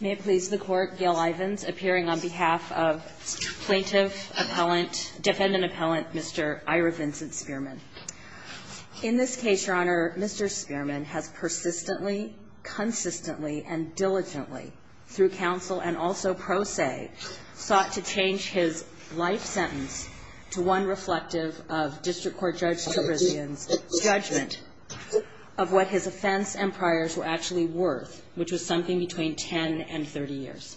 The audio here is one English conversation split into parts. May it please the Court, Gail Ivins, appearing on behalf of plaintiff, defendant-appellant Mr. Ira Vincent Spearman. In this case, Your Honor, Mr. Spearman has persistently, consistently, and diligently, through counsel and also pro se, sought to change his life sentence to one reflective of District Court Judge Trebrizion's judgment of what his offense and priors were actually worth, which was something between 10 and 30 years.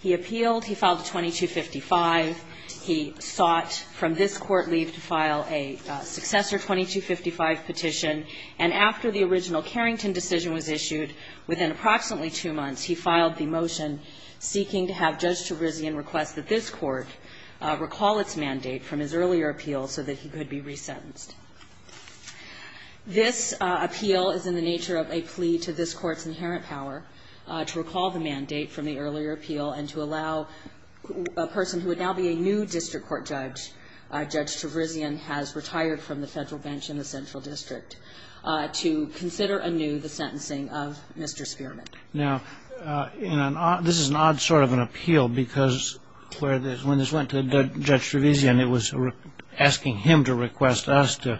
He appealed, he filed a 2255, he sought from this Court leave to file a successor 2255 petition, and after the original Carrington decision was issued, within approximately two months, he filed the motion seeking to have Judge Trebrizion request that this Court recall its mandate from his earlier appeal so that he could be resentenced. This appeal is in the nature of a plea to this Court's inherent power to recall the mandate from the earlier appeal and to allow a person who would now be a new District Court judge, Judge Trebrizion has retired from the Federal bench in the Central District, to consider anew the sentencing of Mr. Spearman. Now, this is an odd sort of an appeal because when this went to Judge Trebrizion, it was asking him to request us to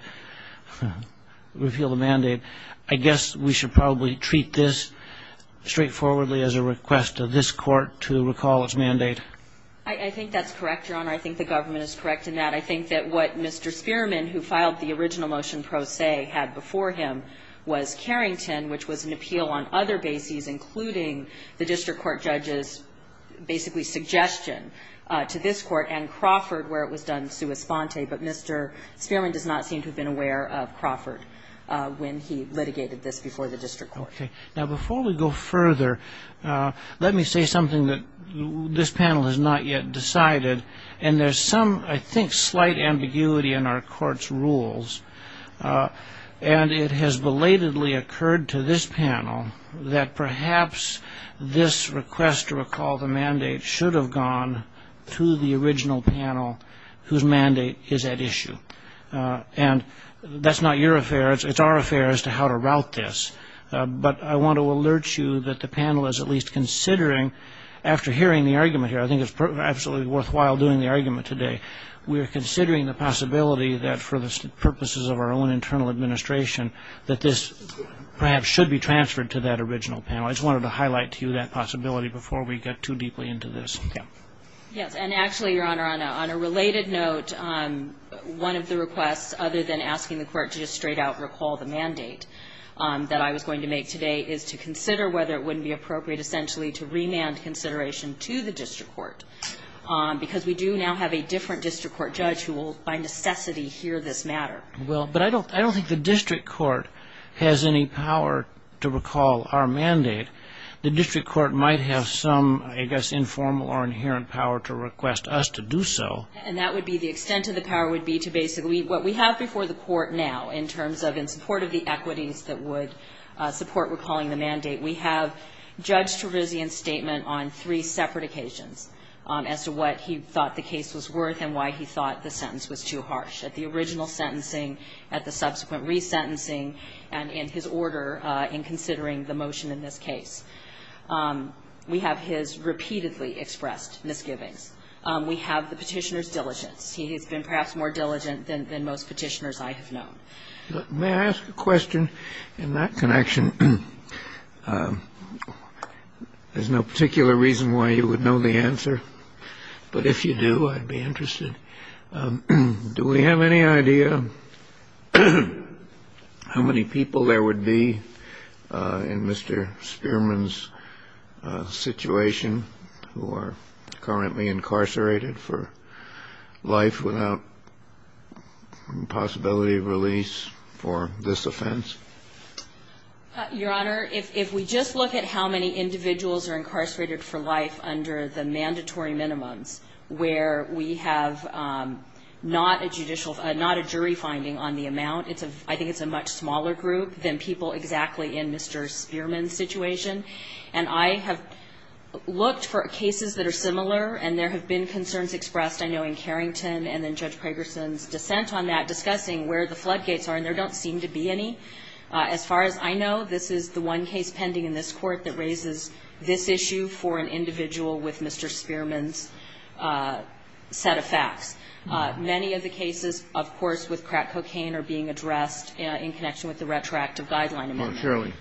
repeal the mandate. I guess we should probably treat this straightforwardly as a request to this Court to recall its mandate. I think that's correct, Your Honor. I think the government is correct in that. I think that what Mr. Spearman, who filed the original motion pro se, had before him was Carrington, which was an appeal on other bases, including the District Court judge's basically suggestion to this Court, and Crawford, where it was done sua sponte. But Mr. Spearman does not seem to have been aware of Crawford when he litigated this before the District Court. Okay. Now, before we go further, let me say something that this panel has not yet decided, and there's some, I think, slight ambiguity in our Court's rules. And it has belatedly occurred to this panel that perhaps this request to recall the mandate should have gone to the original panel whose mandate is at issue. And that's not your affair. It's our affair as to how to route this. But I want to alert you that the panel is at least considering, after hearing the argument here, I think it's absolutely worthwhile doing the argument today, we are considering the possibility that for the purposes of our own internal administration that this perhaps should be transferred to that original panel. I just wanted to highlight to you that possibility before we get too deeply into this. Yes. And actually, Your Honor, on a related note, one of the requests other than asking the Court to just straight out recall the mandate that I was going to make today is to consider whether it wouldn't be appropriate essentially to remand consideration to the District Court, because we do now have a different District Court judge who will by necessity hear this matter. Well, but I don't think the District Court has any power to recall our mandate. The District Court might have some, I guess, informal or inherent power to request us to do so. And that would be the extent of the power would be to basically what we have before the Court now in terms of in support of the equities that would support recalling the mandate, we have Judge Terizian's statement on three separate occasions as to what he thought the case was worth and why he thought the sentence was too harsh, at the original sentencing, at the subsequent resentencing, and in his order in considering the motion in this case. We have his repeatedly expressed misgivings. We have the Petitioner's diligence. He has been perhaps more diligent than most Petitioners I have known. May I ask a question in that connection? There's no particular reason why you would know the answer, but if you do, I'd be interested. Do we have any idea how many people there would be in Mr. Spearman's situation who are currently incarcerated for life without possibility of release for this offense? Your Honor, if we just look at how many individuals are incarcerated for life under the mandatory minimums where we have not a judicial or not a jury finding on the amount, I think it's a much smaller group than people exactly in Mr. Spearman's situation. And I have looked for cases that are similar, and there have been concerns expressed, I know, in Carrington and then Judge Pragerson's dissent on that, discussing where the floodgates are, and there don't seem to be any. As far as I know, this is the one case pending in this Court that raises this issue for an individual with Mr. Spearman's set of facts. Many of the cases, of course, with crack cocaine are being addressed in connection with the retroactive guideline amendment.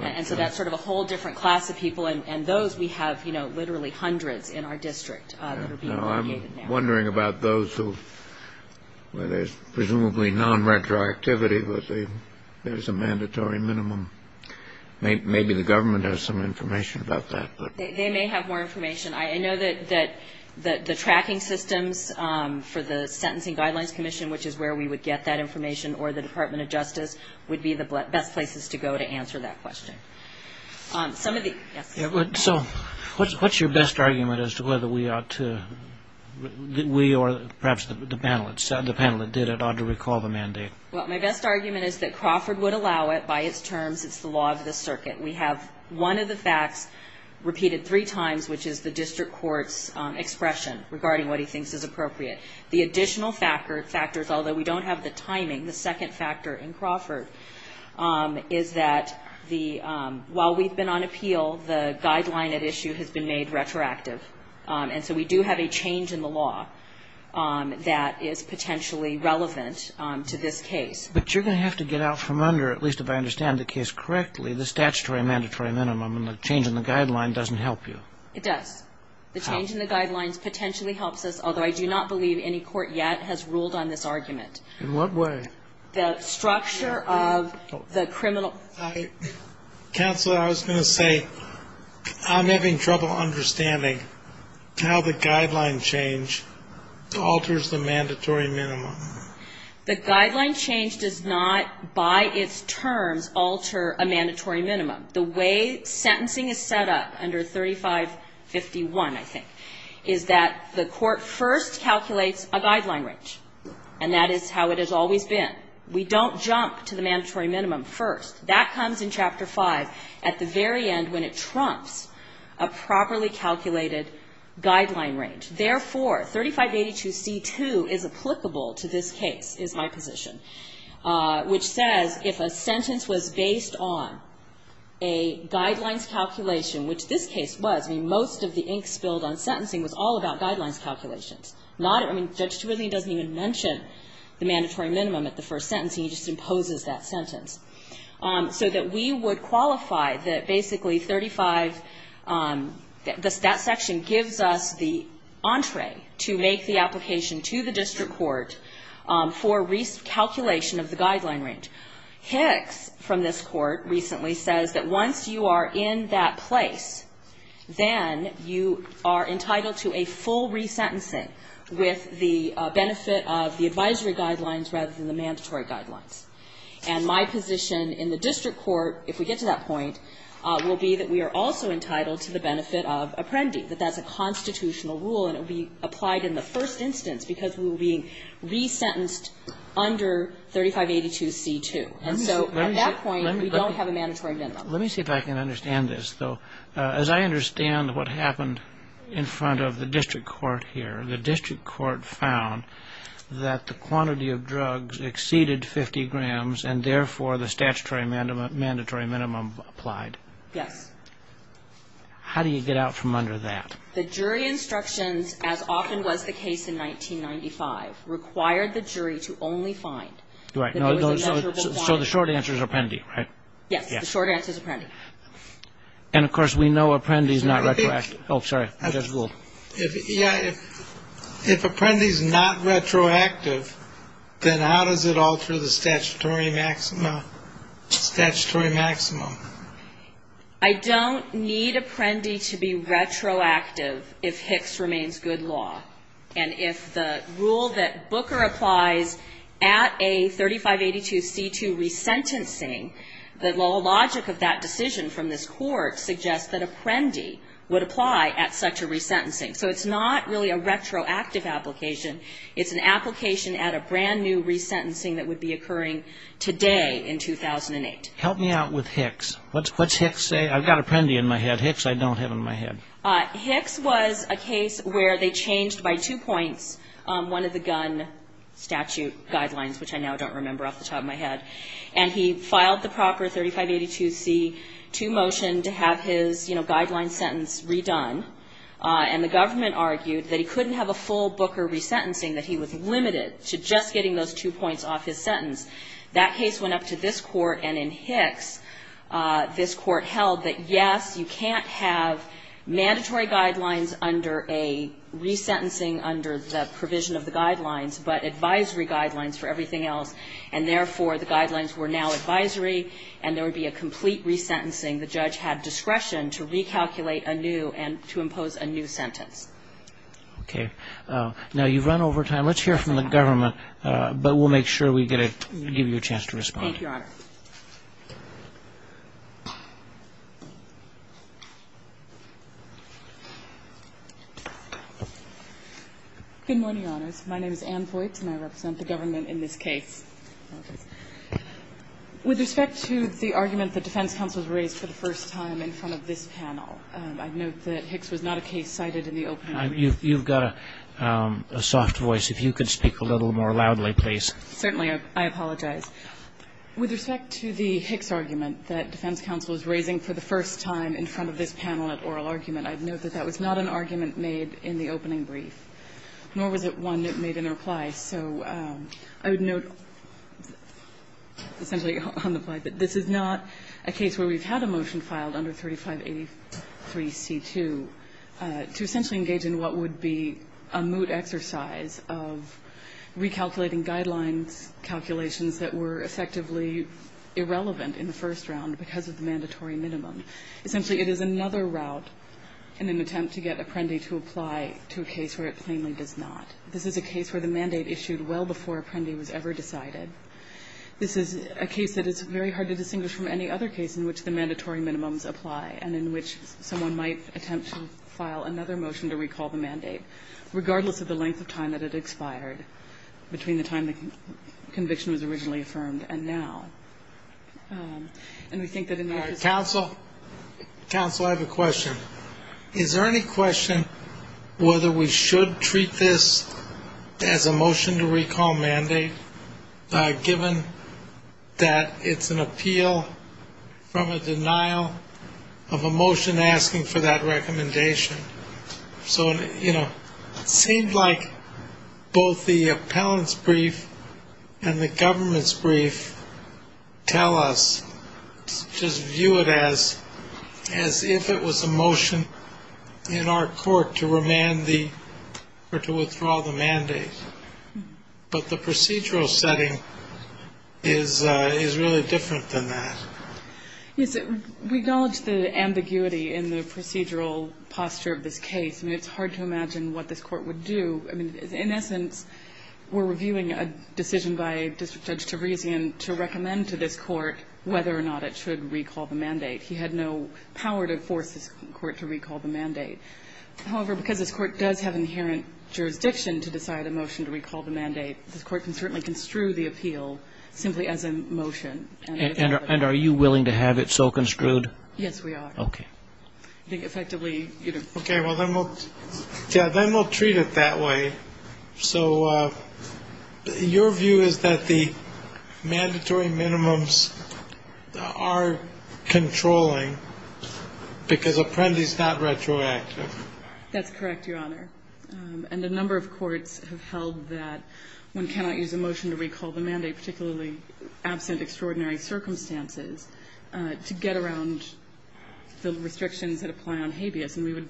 And so that's sort of a whole different class of people, and those we have literally hundreds in our district that are being mitigated now. I'm wondering about those where there's presumably non-retroactivity, but there's a mandatory minimum. Maybe the government has some information about that. They may have more information. I know that the tracking systems for the Sentencing Guidelines Commission, which is where we would get that information, or the Department of Justice would be the best places to go to answer that question. So what's your best argument as to whether we ought to, we or perhaps the panel that did it, ought to recall the mandate? Well, my best argument is that Crawford would allow it by its terms. It's the law of the circuit. We have one of the facts repeated three times, which is the district court's expression regarding what he thinks is appropriate. The additional factors, although we don't have the timing, the second factor in Crawford is that while we've been on appeal, the guideline at issue has been made retroactive. And so we do have a change in the law that is potentially relevant to this case. But you're going to have to get out from under, at least if I understand the case correctly, the statutory mandatory minimum, and the change in the guideline doesn't help you. It does. The change in the guidelines potentially helps us, although I do not believe any court yet has ruled on this argument. In what way? The structure of the criminal. Counsel, I was going to say, I'm having trouble understanding how the guideline change alters the mandatory minimum. The guideline change does not, by its terms, alter a mandatory minimum. The way sentencing is set up under 3551, I think, is that the court first calculates a guideline range. And that is how it has always been. We don't jump to the mandatory minimum first. That comes in Chapter 5 at the very end when it trumps a properly calculated guideline range. Therefore, 3582C2 is applicable to this case, is my position, which says if a sentence was based on a guidelines calculation, which this case was. I mean, most of the ink spilled on sentencing was all about guidelines calculations. Not, I mean, Judge Turullian doesn't even mention the mandatory minimum at the first sentence. He just imposes that sentence. So that we would qualify that basically 35, that section gives us the entree to make the application to the district court for recalculation of the guideline range. Hicks from this court recently says that once you are in that place, then you are entitled to a full resentencing with the benefit of the advisory guidelines rather than the mandatory guidelines. And my position in the district court, if we get to that point, will be that we are also entitled to the benefit of apprendi, that that's a constitutional rule and it will be applied in the first instance because we will be resentenced under 3582C2. And so at that point, we don't have a mandatory minimum. Let me see if I can understand this, though. As I understand what happened in front of the district court here, the district court found that the quantity of drugs exceeded 50 grams and, therefore, the statutory mandatory minimum applied. Yes. How do you get out from under that? The jury instructions, as often was the case in 1995, required the jury to only find that there was a measurable quantity. Right. So the short answer is apprendi, right? Yes. The short answer is apprendi. And, of course, we know apprendi is not retroactive. Oh, sorry. Judge Gould. Yeah. If apprendi is not retroactive, then how does it alter the statutory maximum? I don't need apprendi to be retroactive if Hicks remains good law. And if the rule that Booker applies at a 3582C2 resentencing, the logic of that decision from this court suggests that apprendi would apply at such a resentencing. So it's not really a retroactive application. It's an application at a brand-new resentencing that would be occurring today in 2008. Help me out with Hicks. What's Hicks say? I've got apprendi in my head. Hicks I don't have in my head. Hicks was a case where they changed by two points one of the gun statute guidelines, which I now don't remember off the top of my head. And he filed the proper 3582C2 motion to have his, you know, guideline sentence redone. And the government argued that he couldn't have a full Booker resentencing, that he was limited to just getting those two points off his sentence. That case went up to this court, and in Hicks this court held that, yes, you can't have mandatory guidelines under a resentencing under the provision of the guidelines, but advisory guidelines for everything else. And, therefore, the guidelines were now advisory, and there would be a complete resentencing. The judge had discretion to recalculate a new and to impose a new sentence. Okay. Now, you've run over time. Let's hear from the government. But we'll make sure we give you a chance to respond. Thank you, Your Honor. Good morning, Your Honors. My name is Ann Voigt, and I represent the government in this case. With respect to the argument the defense counsels raised for the first time in front of this panel, I note that Hicks was not a case cited in the opening. You've got a soft voice. If you could speak a little more loudly, please. Certainly. I apologize. With respect to the Hicks argument that defense counsel is raising for the first time in front of this panel at oral argument, I'd note that that was not an argument made in the opening brief, nor was it one that made an reply. So I would note essentially on the fly that this is not a case where we've had a motion filed under 3583C2 to essentially engage in what would be a moot exercise of recalculating guidelines, calculations that were effectively irrelevant in the first round because of the mandatory minimum. Essentially, it is another route in an attempt to get Apprendi to apply to a case where it plainly does not. This is a case where the mandate issued well before Apprendi was ever decided. This is a case that is very hard to distinguish from any other case in which the mandatory minimums apply and in which someone might attempt to file another motion to recall the mandate, regardless of the length of time that it expired, between the time the conviction was originally affirmed and now. And we think that in that respect we need to be careful. Counsel, counsel, I have a question. Is there any question whether we should treat this as a motion to recall mandate given that it's an appeal from a denial of a motion asking for that recommendation? So, you know, it seemed like both the appellant's brief and the government's brief tell us to just view it as if it was a motion in our court to remand the or to withdraw the mandate. But the procedural setting is really different than that. Yes. We acknowledge the ambiguity in the procedural posture of this case. I mean, it's hard to imagine what this Court would do. I mean, in essence, we're reviewing a decision by District Judge Teresian to recommend to this Court whether or not it should recall the mandate. He had no power to force this Court to recall the mandate. However, because this Court does have inherent jurisdiction to decide a motion to recall the mandate, this Court can certainly construe the appeal simply as a motion. And are you willing to have it so construed? Yes, we are. Okay. I think effectively, you know. Okay. Well, then we'll treat it that way. So your view is that the mandatory minimums are controlling because Apprendi's not retroactive. That's correct, Your Honor. And a number of courts have held that one cannot use a motion to recall the mandate, particularly absent extraordinary circumstances, to get around the restrictions that apply on habeas. And we would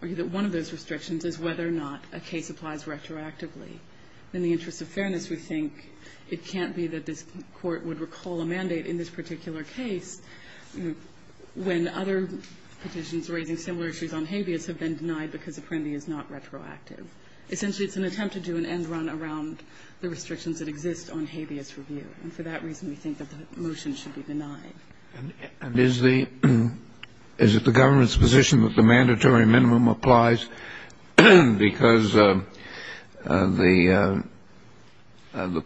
argue that one of those restrictions is whether or not a case applies retroactively. In the interest of fairness, we think it can't be that this Court would recall a mandate in this particular case when other petitions raising similar issues on habeas have been denied because Apprendi is not retroactive. Essentially, it's an attempt to do an end run around the restrictions that exist on habeas review. And for that reason, we think that the motion should be denied. And is the government's position that the mandatory minimum applies because the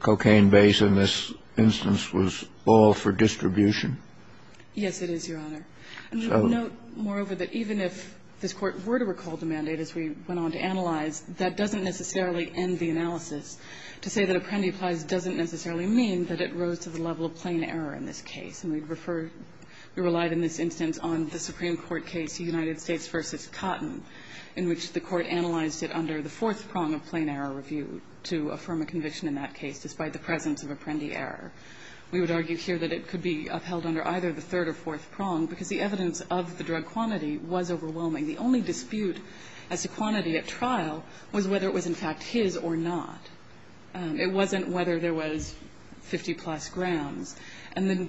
cocaine base in this instance was all for distribution? Yes, it is, Your Honor. And we would note, moreover, that even if this Court were to recall the mandate as we went on to analyze, that doesn't necessarily end the analysis. To say that Apprendi applies doesn't necessarily mean that it rose to the level of plain error in this case. And we refer to, we relied in this instance on the Supreme Court case, the United States v. Cotton, in which the Court analyzed it under the fourth prong of plain error review to affirm a conviction in that case, despite the presence of Apprendi error. We would argue here that it could be upheld under either the third or fourth prong because the evidence of the drug quantity was overwhelming. The only dispute as to quantity at trial was whether it was in fact his or not. It wasn't whether there was 50-plus grams. And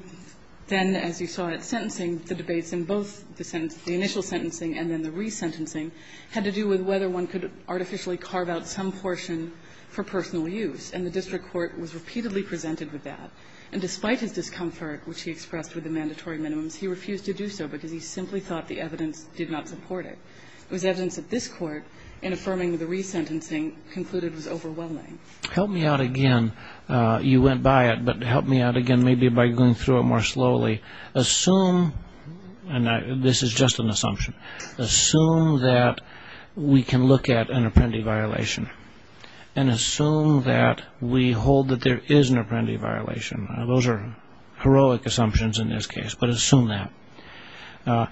then, as you saw at sentencing, the debates in both the initial sentencing and then the resentencing had to do with whether one could artificially carve out some portion for personal use. And the district court was repeatedly presented with that. And despite his discomfort, which he expressed with the mandatory minimums, he refused to do so because he simply thought the evidence did not support it. It was evidence that this court, in affirming the resentencing, concluded was overwhelming. Help me out again. You went by it, but help me out again maybe by going through it more slowly. Assume, and this is just an assumption, assume that we can look at an Apprendi violation and assume that we hold that there is an Apprendi violation. Those are heroic assumptions in this case, but assume that.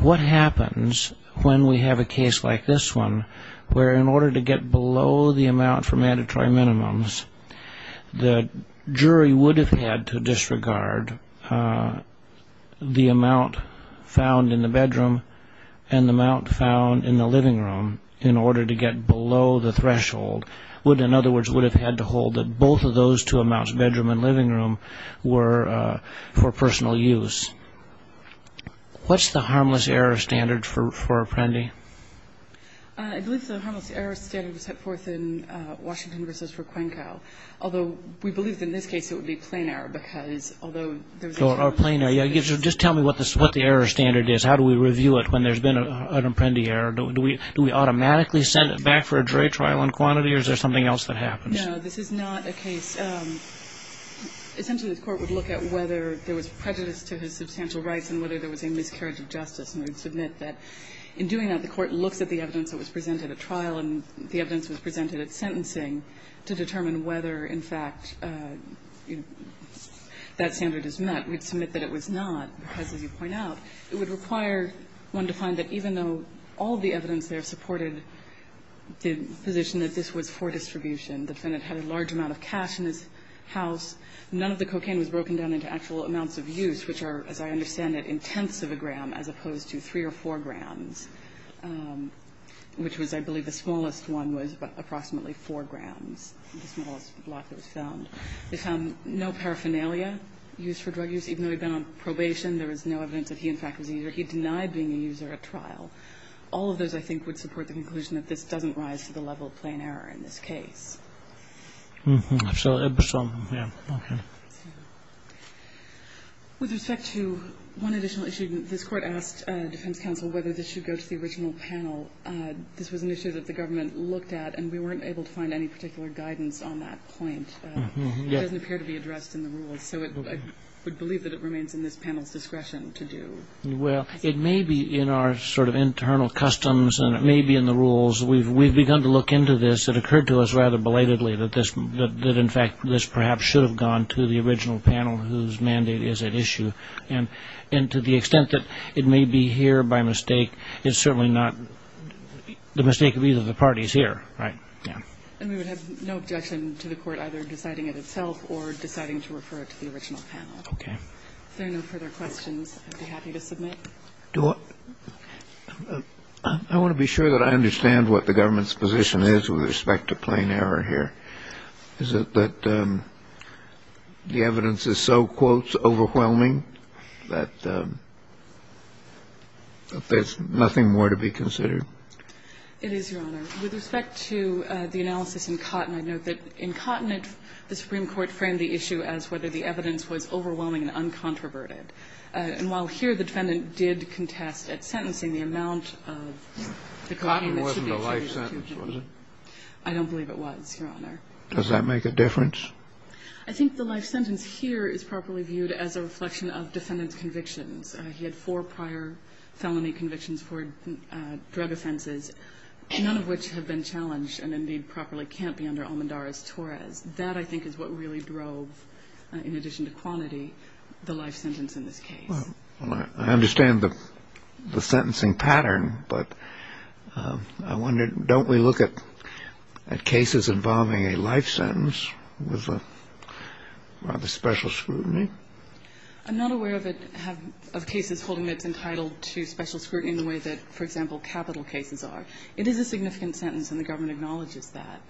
What happens when we have a case like this one where in order to get below the amount for mandatory minimums, the jury would have had to disregard the amount found in the threshold. In other words, would have had to hold that both of those two amounts, bedroom and living room, were for personal use. What's the harmless error standard for Apprendi? I believe the harmless error standard was set forth in Washington v. Raquenco. Although, we believe in this case it would be plain error because although there's a... Or plain error. Just tell me what the error standard is. How do we review it when there's been an Apprendi error? Do we automatically send it back for a jury trial on quantity or is there something else that happens? No, this is not a case. Essentially, the court would look at whether there was prejudice to his substantial rights and whether there was a miscarriage of justice. And we'd submit that in doing that, the court looks at the evidence that was presented at trial and the evidence that was presented at sentencing to determine whether in fact that standard is met. We'd submit that it was not because, as you point out, it would require one to find that even though all the evidence there supported the position that this was for distribution, the defendant had a large amount of cash in his house. None of the cocaine was broken down into actual amounts of use, which are, as I understand it, in tenths of a gram as opposed to three or four grams, which was, I believe, the smallest one was approximately four grams, the smallest block that was found. They found no paraphernalia used for drug use. Even though he'd been on probation, there was no evidence that he in fact was a user. All of those, I think, would support the conclusion that this doesn't rise to the level of plain error in this case. With respect to one additional issue, this court asked defense counsel whether this should go to the original panel. This was an issue that the government looked at, and we weren't able to find any particular guidance on that point. It doesn't appear to be addressed in the rules, so I would believe that it remains in this panel's discretion to do. Well, it may be in our sort of internal customs, and it may be in the rules. We've begun to look into this. It occurred to us rather belatedly that, in fact, this perhaps should have gone to the original panel, whose mandate is at issue. And to the extent that it may be here by mistake, it's certainly not the mistake of either of the parties here, right? Yeah. And we would have no objection to the court either deciding it itself or deciding to refer it to the original panel. Okay. If there are no further questions, I'd be happy to submit. I want to be sure that I understand what the government's position is with respect to plain error here. Is it that the evidence is so, quote, overwhelming that there's nothing more to be considered? It is, Your Honor. With respect to the analysis in Cotton, I note that in Cotton, the Supreme Court framed the issue as whether the evidence was overwhelming and uncontroverted. And while here the defendant did contest at sentencing the amount of the claim that should be attributed to him. Cotton wasn't a life sentence, was it? I don't believe it was, Your Honor. Does that make a difference? I think the life sentence here is properly viewed as a reflection of defendant's convictions. He had four prior felony convictions for drug offenses, none of which have been challenged and, indeed, properly can't be under Almendarez-Torres. That, I think, is what really drove, in addition to quantity, the life sentence in this case. Well, I understand the sentencing pattern, but I wondered, don't we look at cases involving a life sentence with rather special scrutiny? I'm not aware of cases holding that it's entitled to special scrutiny in the way that, for example, capital cases are. It is a significant sentence, and the government acknowledges that.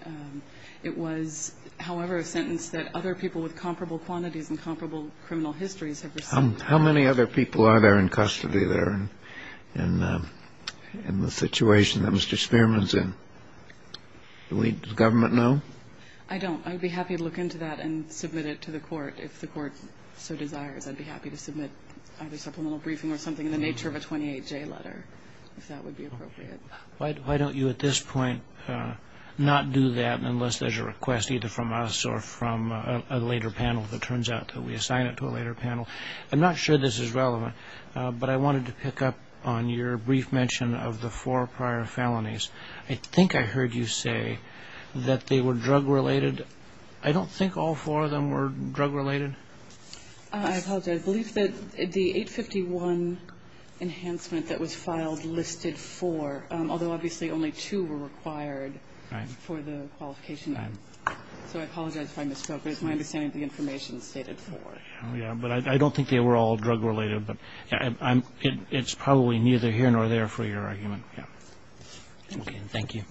It was, however, a sentence that other people with comparable quantities and comparable criminal histories have received. How many other people are there in custody there in the situation that Mr. Spearman's in? Does the government know? I don't. I would be happy to look into that and submit it to the court if the court so desires. I'd be happy to submit either supplemental briefing or something in the nature of a 28J letter, if that would be appropriate. Why don't you, at this point, not do that unless there's a request either from us or from a later panel? If it turns out that we assign it to a later panel. I'm not sure this is relevant, but I wanted to pick up on your brief mention of the four prior felonies. I think I heard you say that they were drug-related. I don't think all four of them were drug-related. I apologize. I believe that the 851 enhancement that was filed listed four, although obviously only two were required for the qualification. So I apologize if I misspoke. It's my understanding that the information is stated four. Oh, yeah. But I don't think they were all drug-related. But it's probably neither here nor there for your argument. Yeah. Okay. Thank you.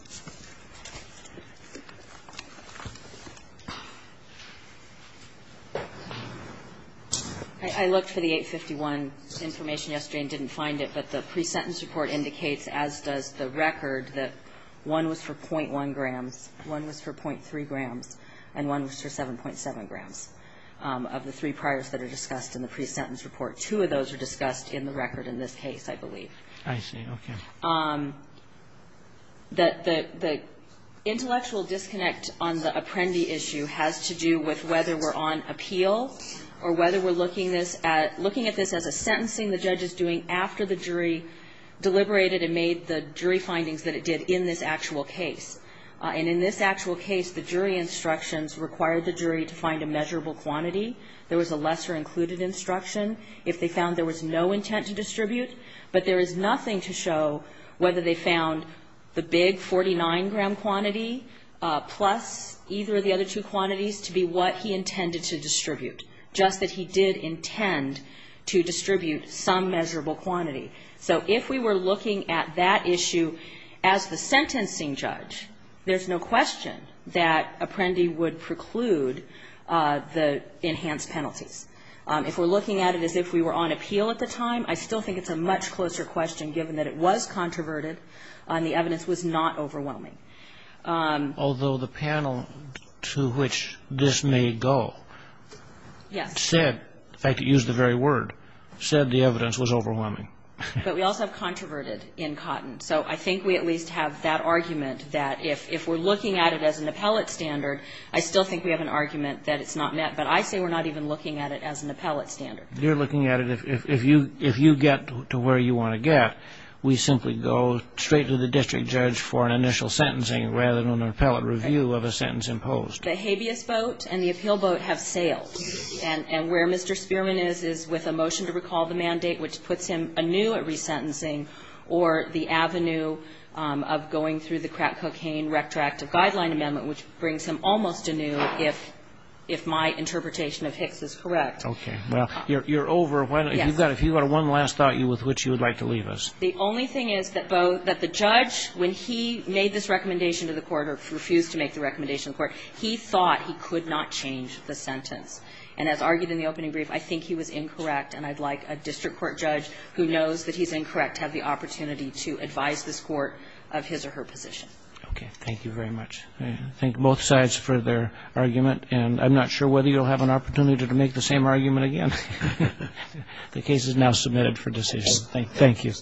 I looked for the 851 information yesterday and didn't find it. But the pre-sentence report indicates, as does the record, that one was for .1 grams, one was for .3 grams, and one was for 7.7 grams. Of the three priors that are discussed in the pre-sentence report, two of those are discussed in the record in this case, I believe. I see. Okay. The intellectual disconnect on the Apprendi issue has to do with whether we're on appeal or whether we're looking at this as a sentencing the judge is doing after the jury deliberated and made the jury findings that it did in this actual case. And in this actual case, the jury instructions required the jury to find a measurable quantity. There was a lesser included instruction if they found there was no intent to distribute. But there is nothing to show whether they found the big 49-gram quantity plus either of the other two quantities to be what he intended to distribute, just that he did intend to distribute some measurable quantity. So if we were looking at that issue as the sentencing judge, there's no question that Apprendi would preclude the enhanced penalties. If we're looking at it as if we were on appeal at the time, I still think it's a much closer question given that it was controverted and the evidence was not overwhelming. Although the panel to which this may go said, if I could use the very word, said the evidence was overwhelming. But we also have controverted in Cotton. So I think we at least have that argument that if we're looking at it as an appellate standard, I still think we have an argument that it's not met. But I say we're not even looking at it as an appellate standard. If you're looking at it, if you get to where you want to get, we simply go straight to the district judge for an initial sentencing rather than an appellate review of a sentence imposed. The habeas vote and the appeal vote have sailed. And where Mr. Spearman is is with a motion to recall the mandate, which puts him anew at resentencing, or the avenue of going through the crack cocaine retroactive guideline amendment, which brings him almost anew if my interpretation of Hicks is correct. Okay. Well, you're over. Yes. If you've got one last thought with which you would like to leave us. The only thing is that the judge, when he made this recommendation to the court, or refused to make the recommendation to the court, he thought he could not change the sentence. And as argued in the opening brief, I think he was incorrect. And I'd like a district court judge who knows that he's incorrect to have the opportunity to advise this court of his or her position. Okay. Thank you very much. I thank both sides for their argument. And I'm not sure whether you'll have an opportunity to make the same argument again. The case is now submitted for decision. Thank you.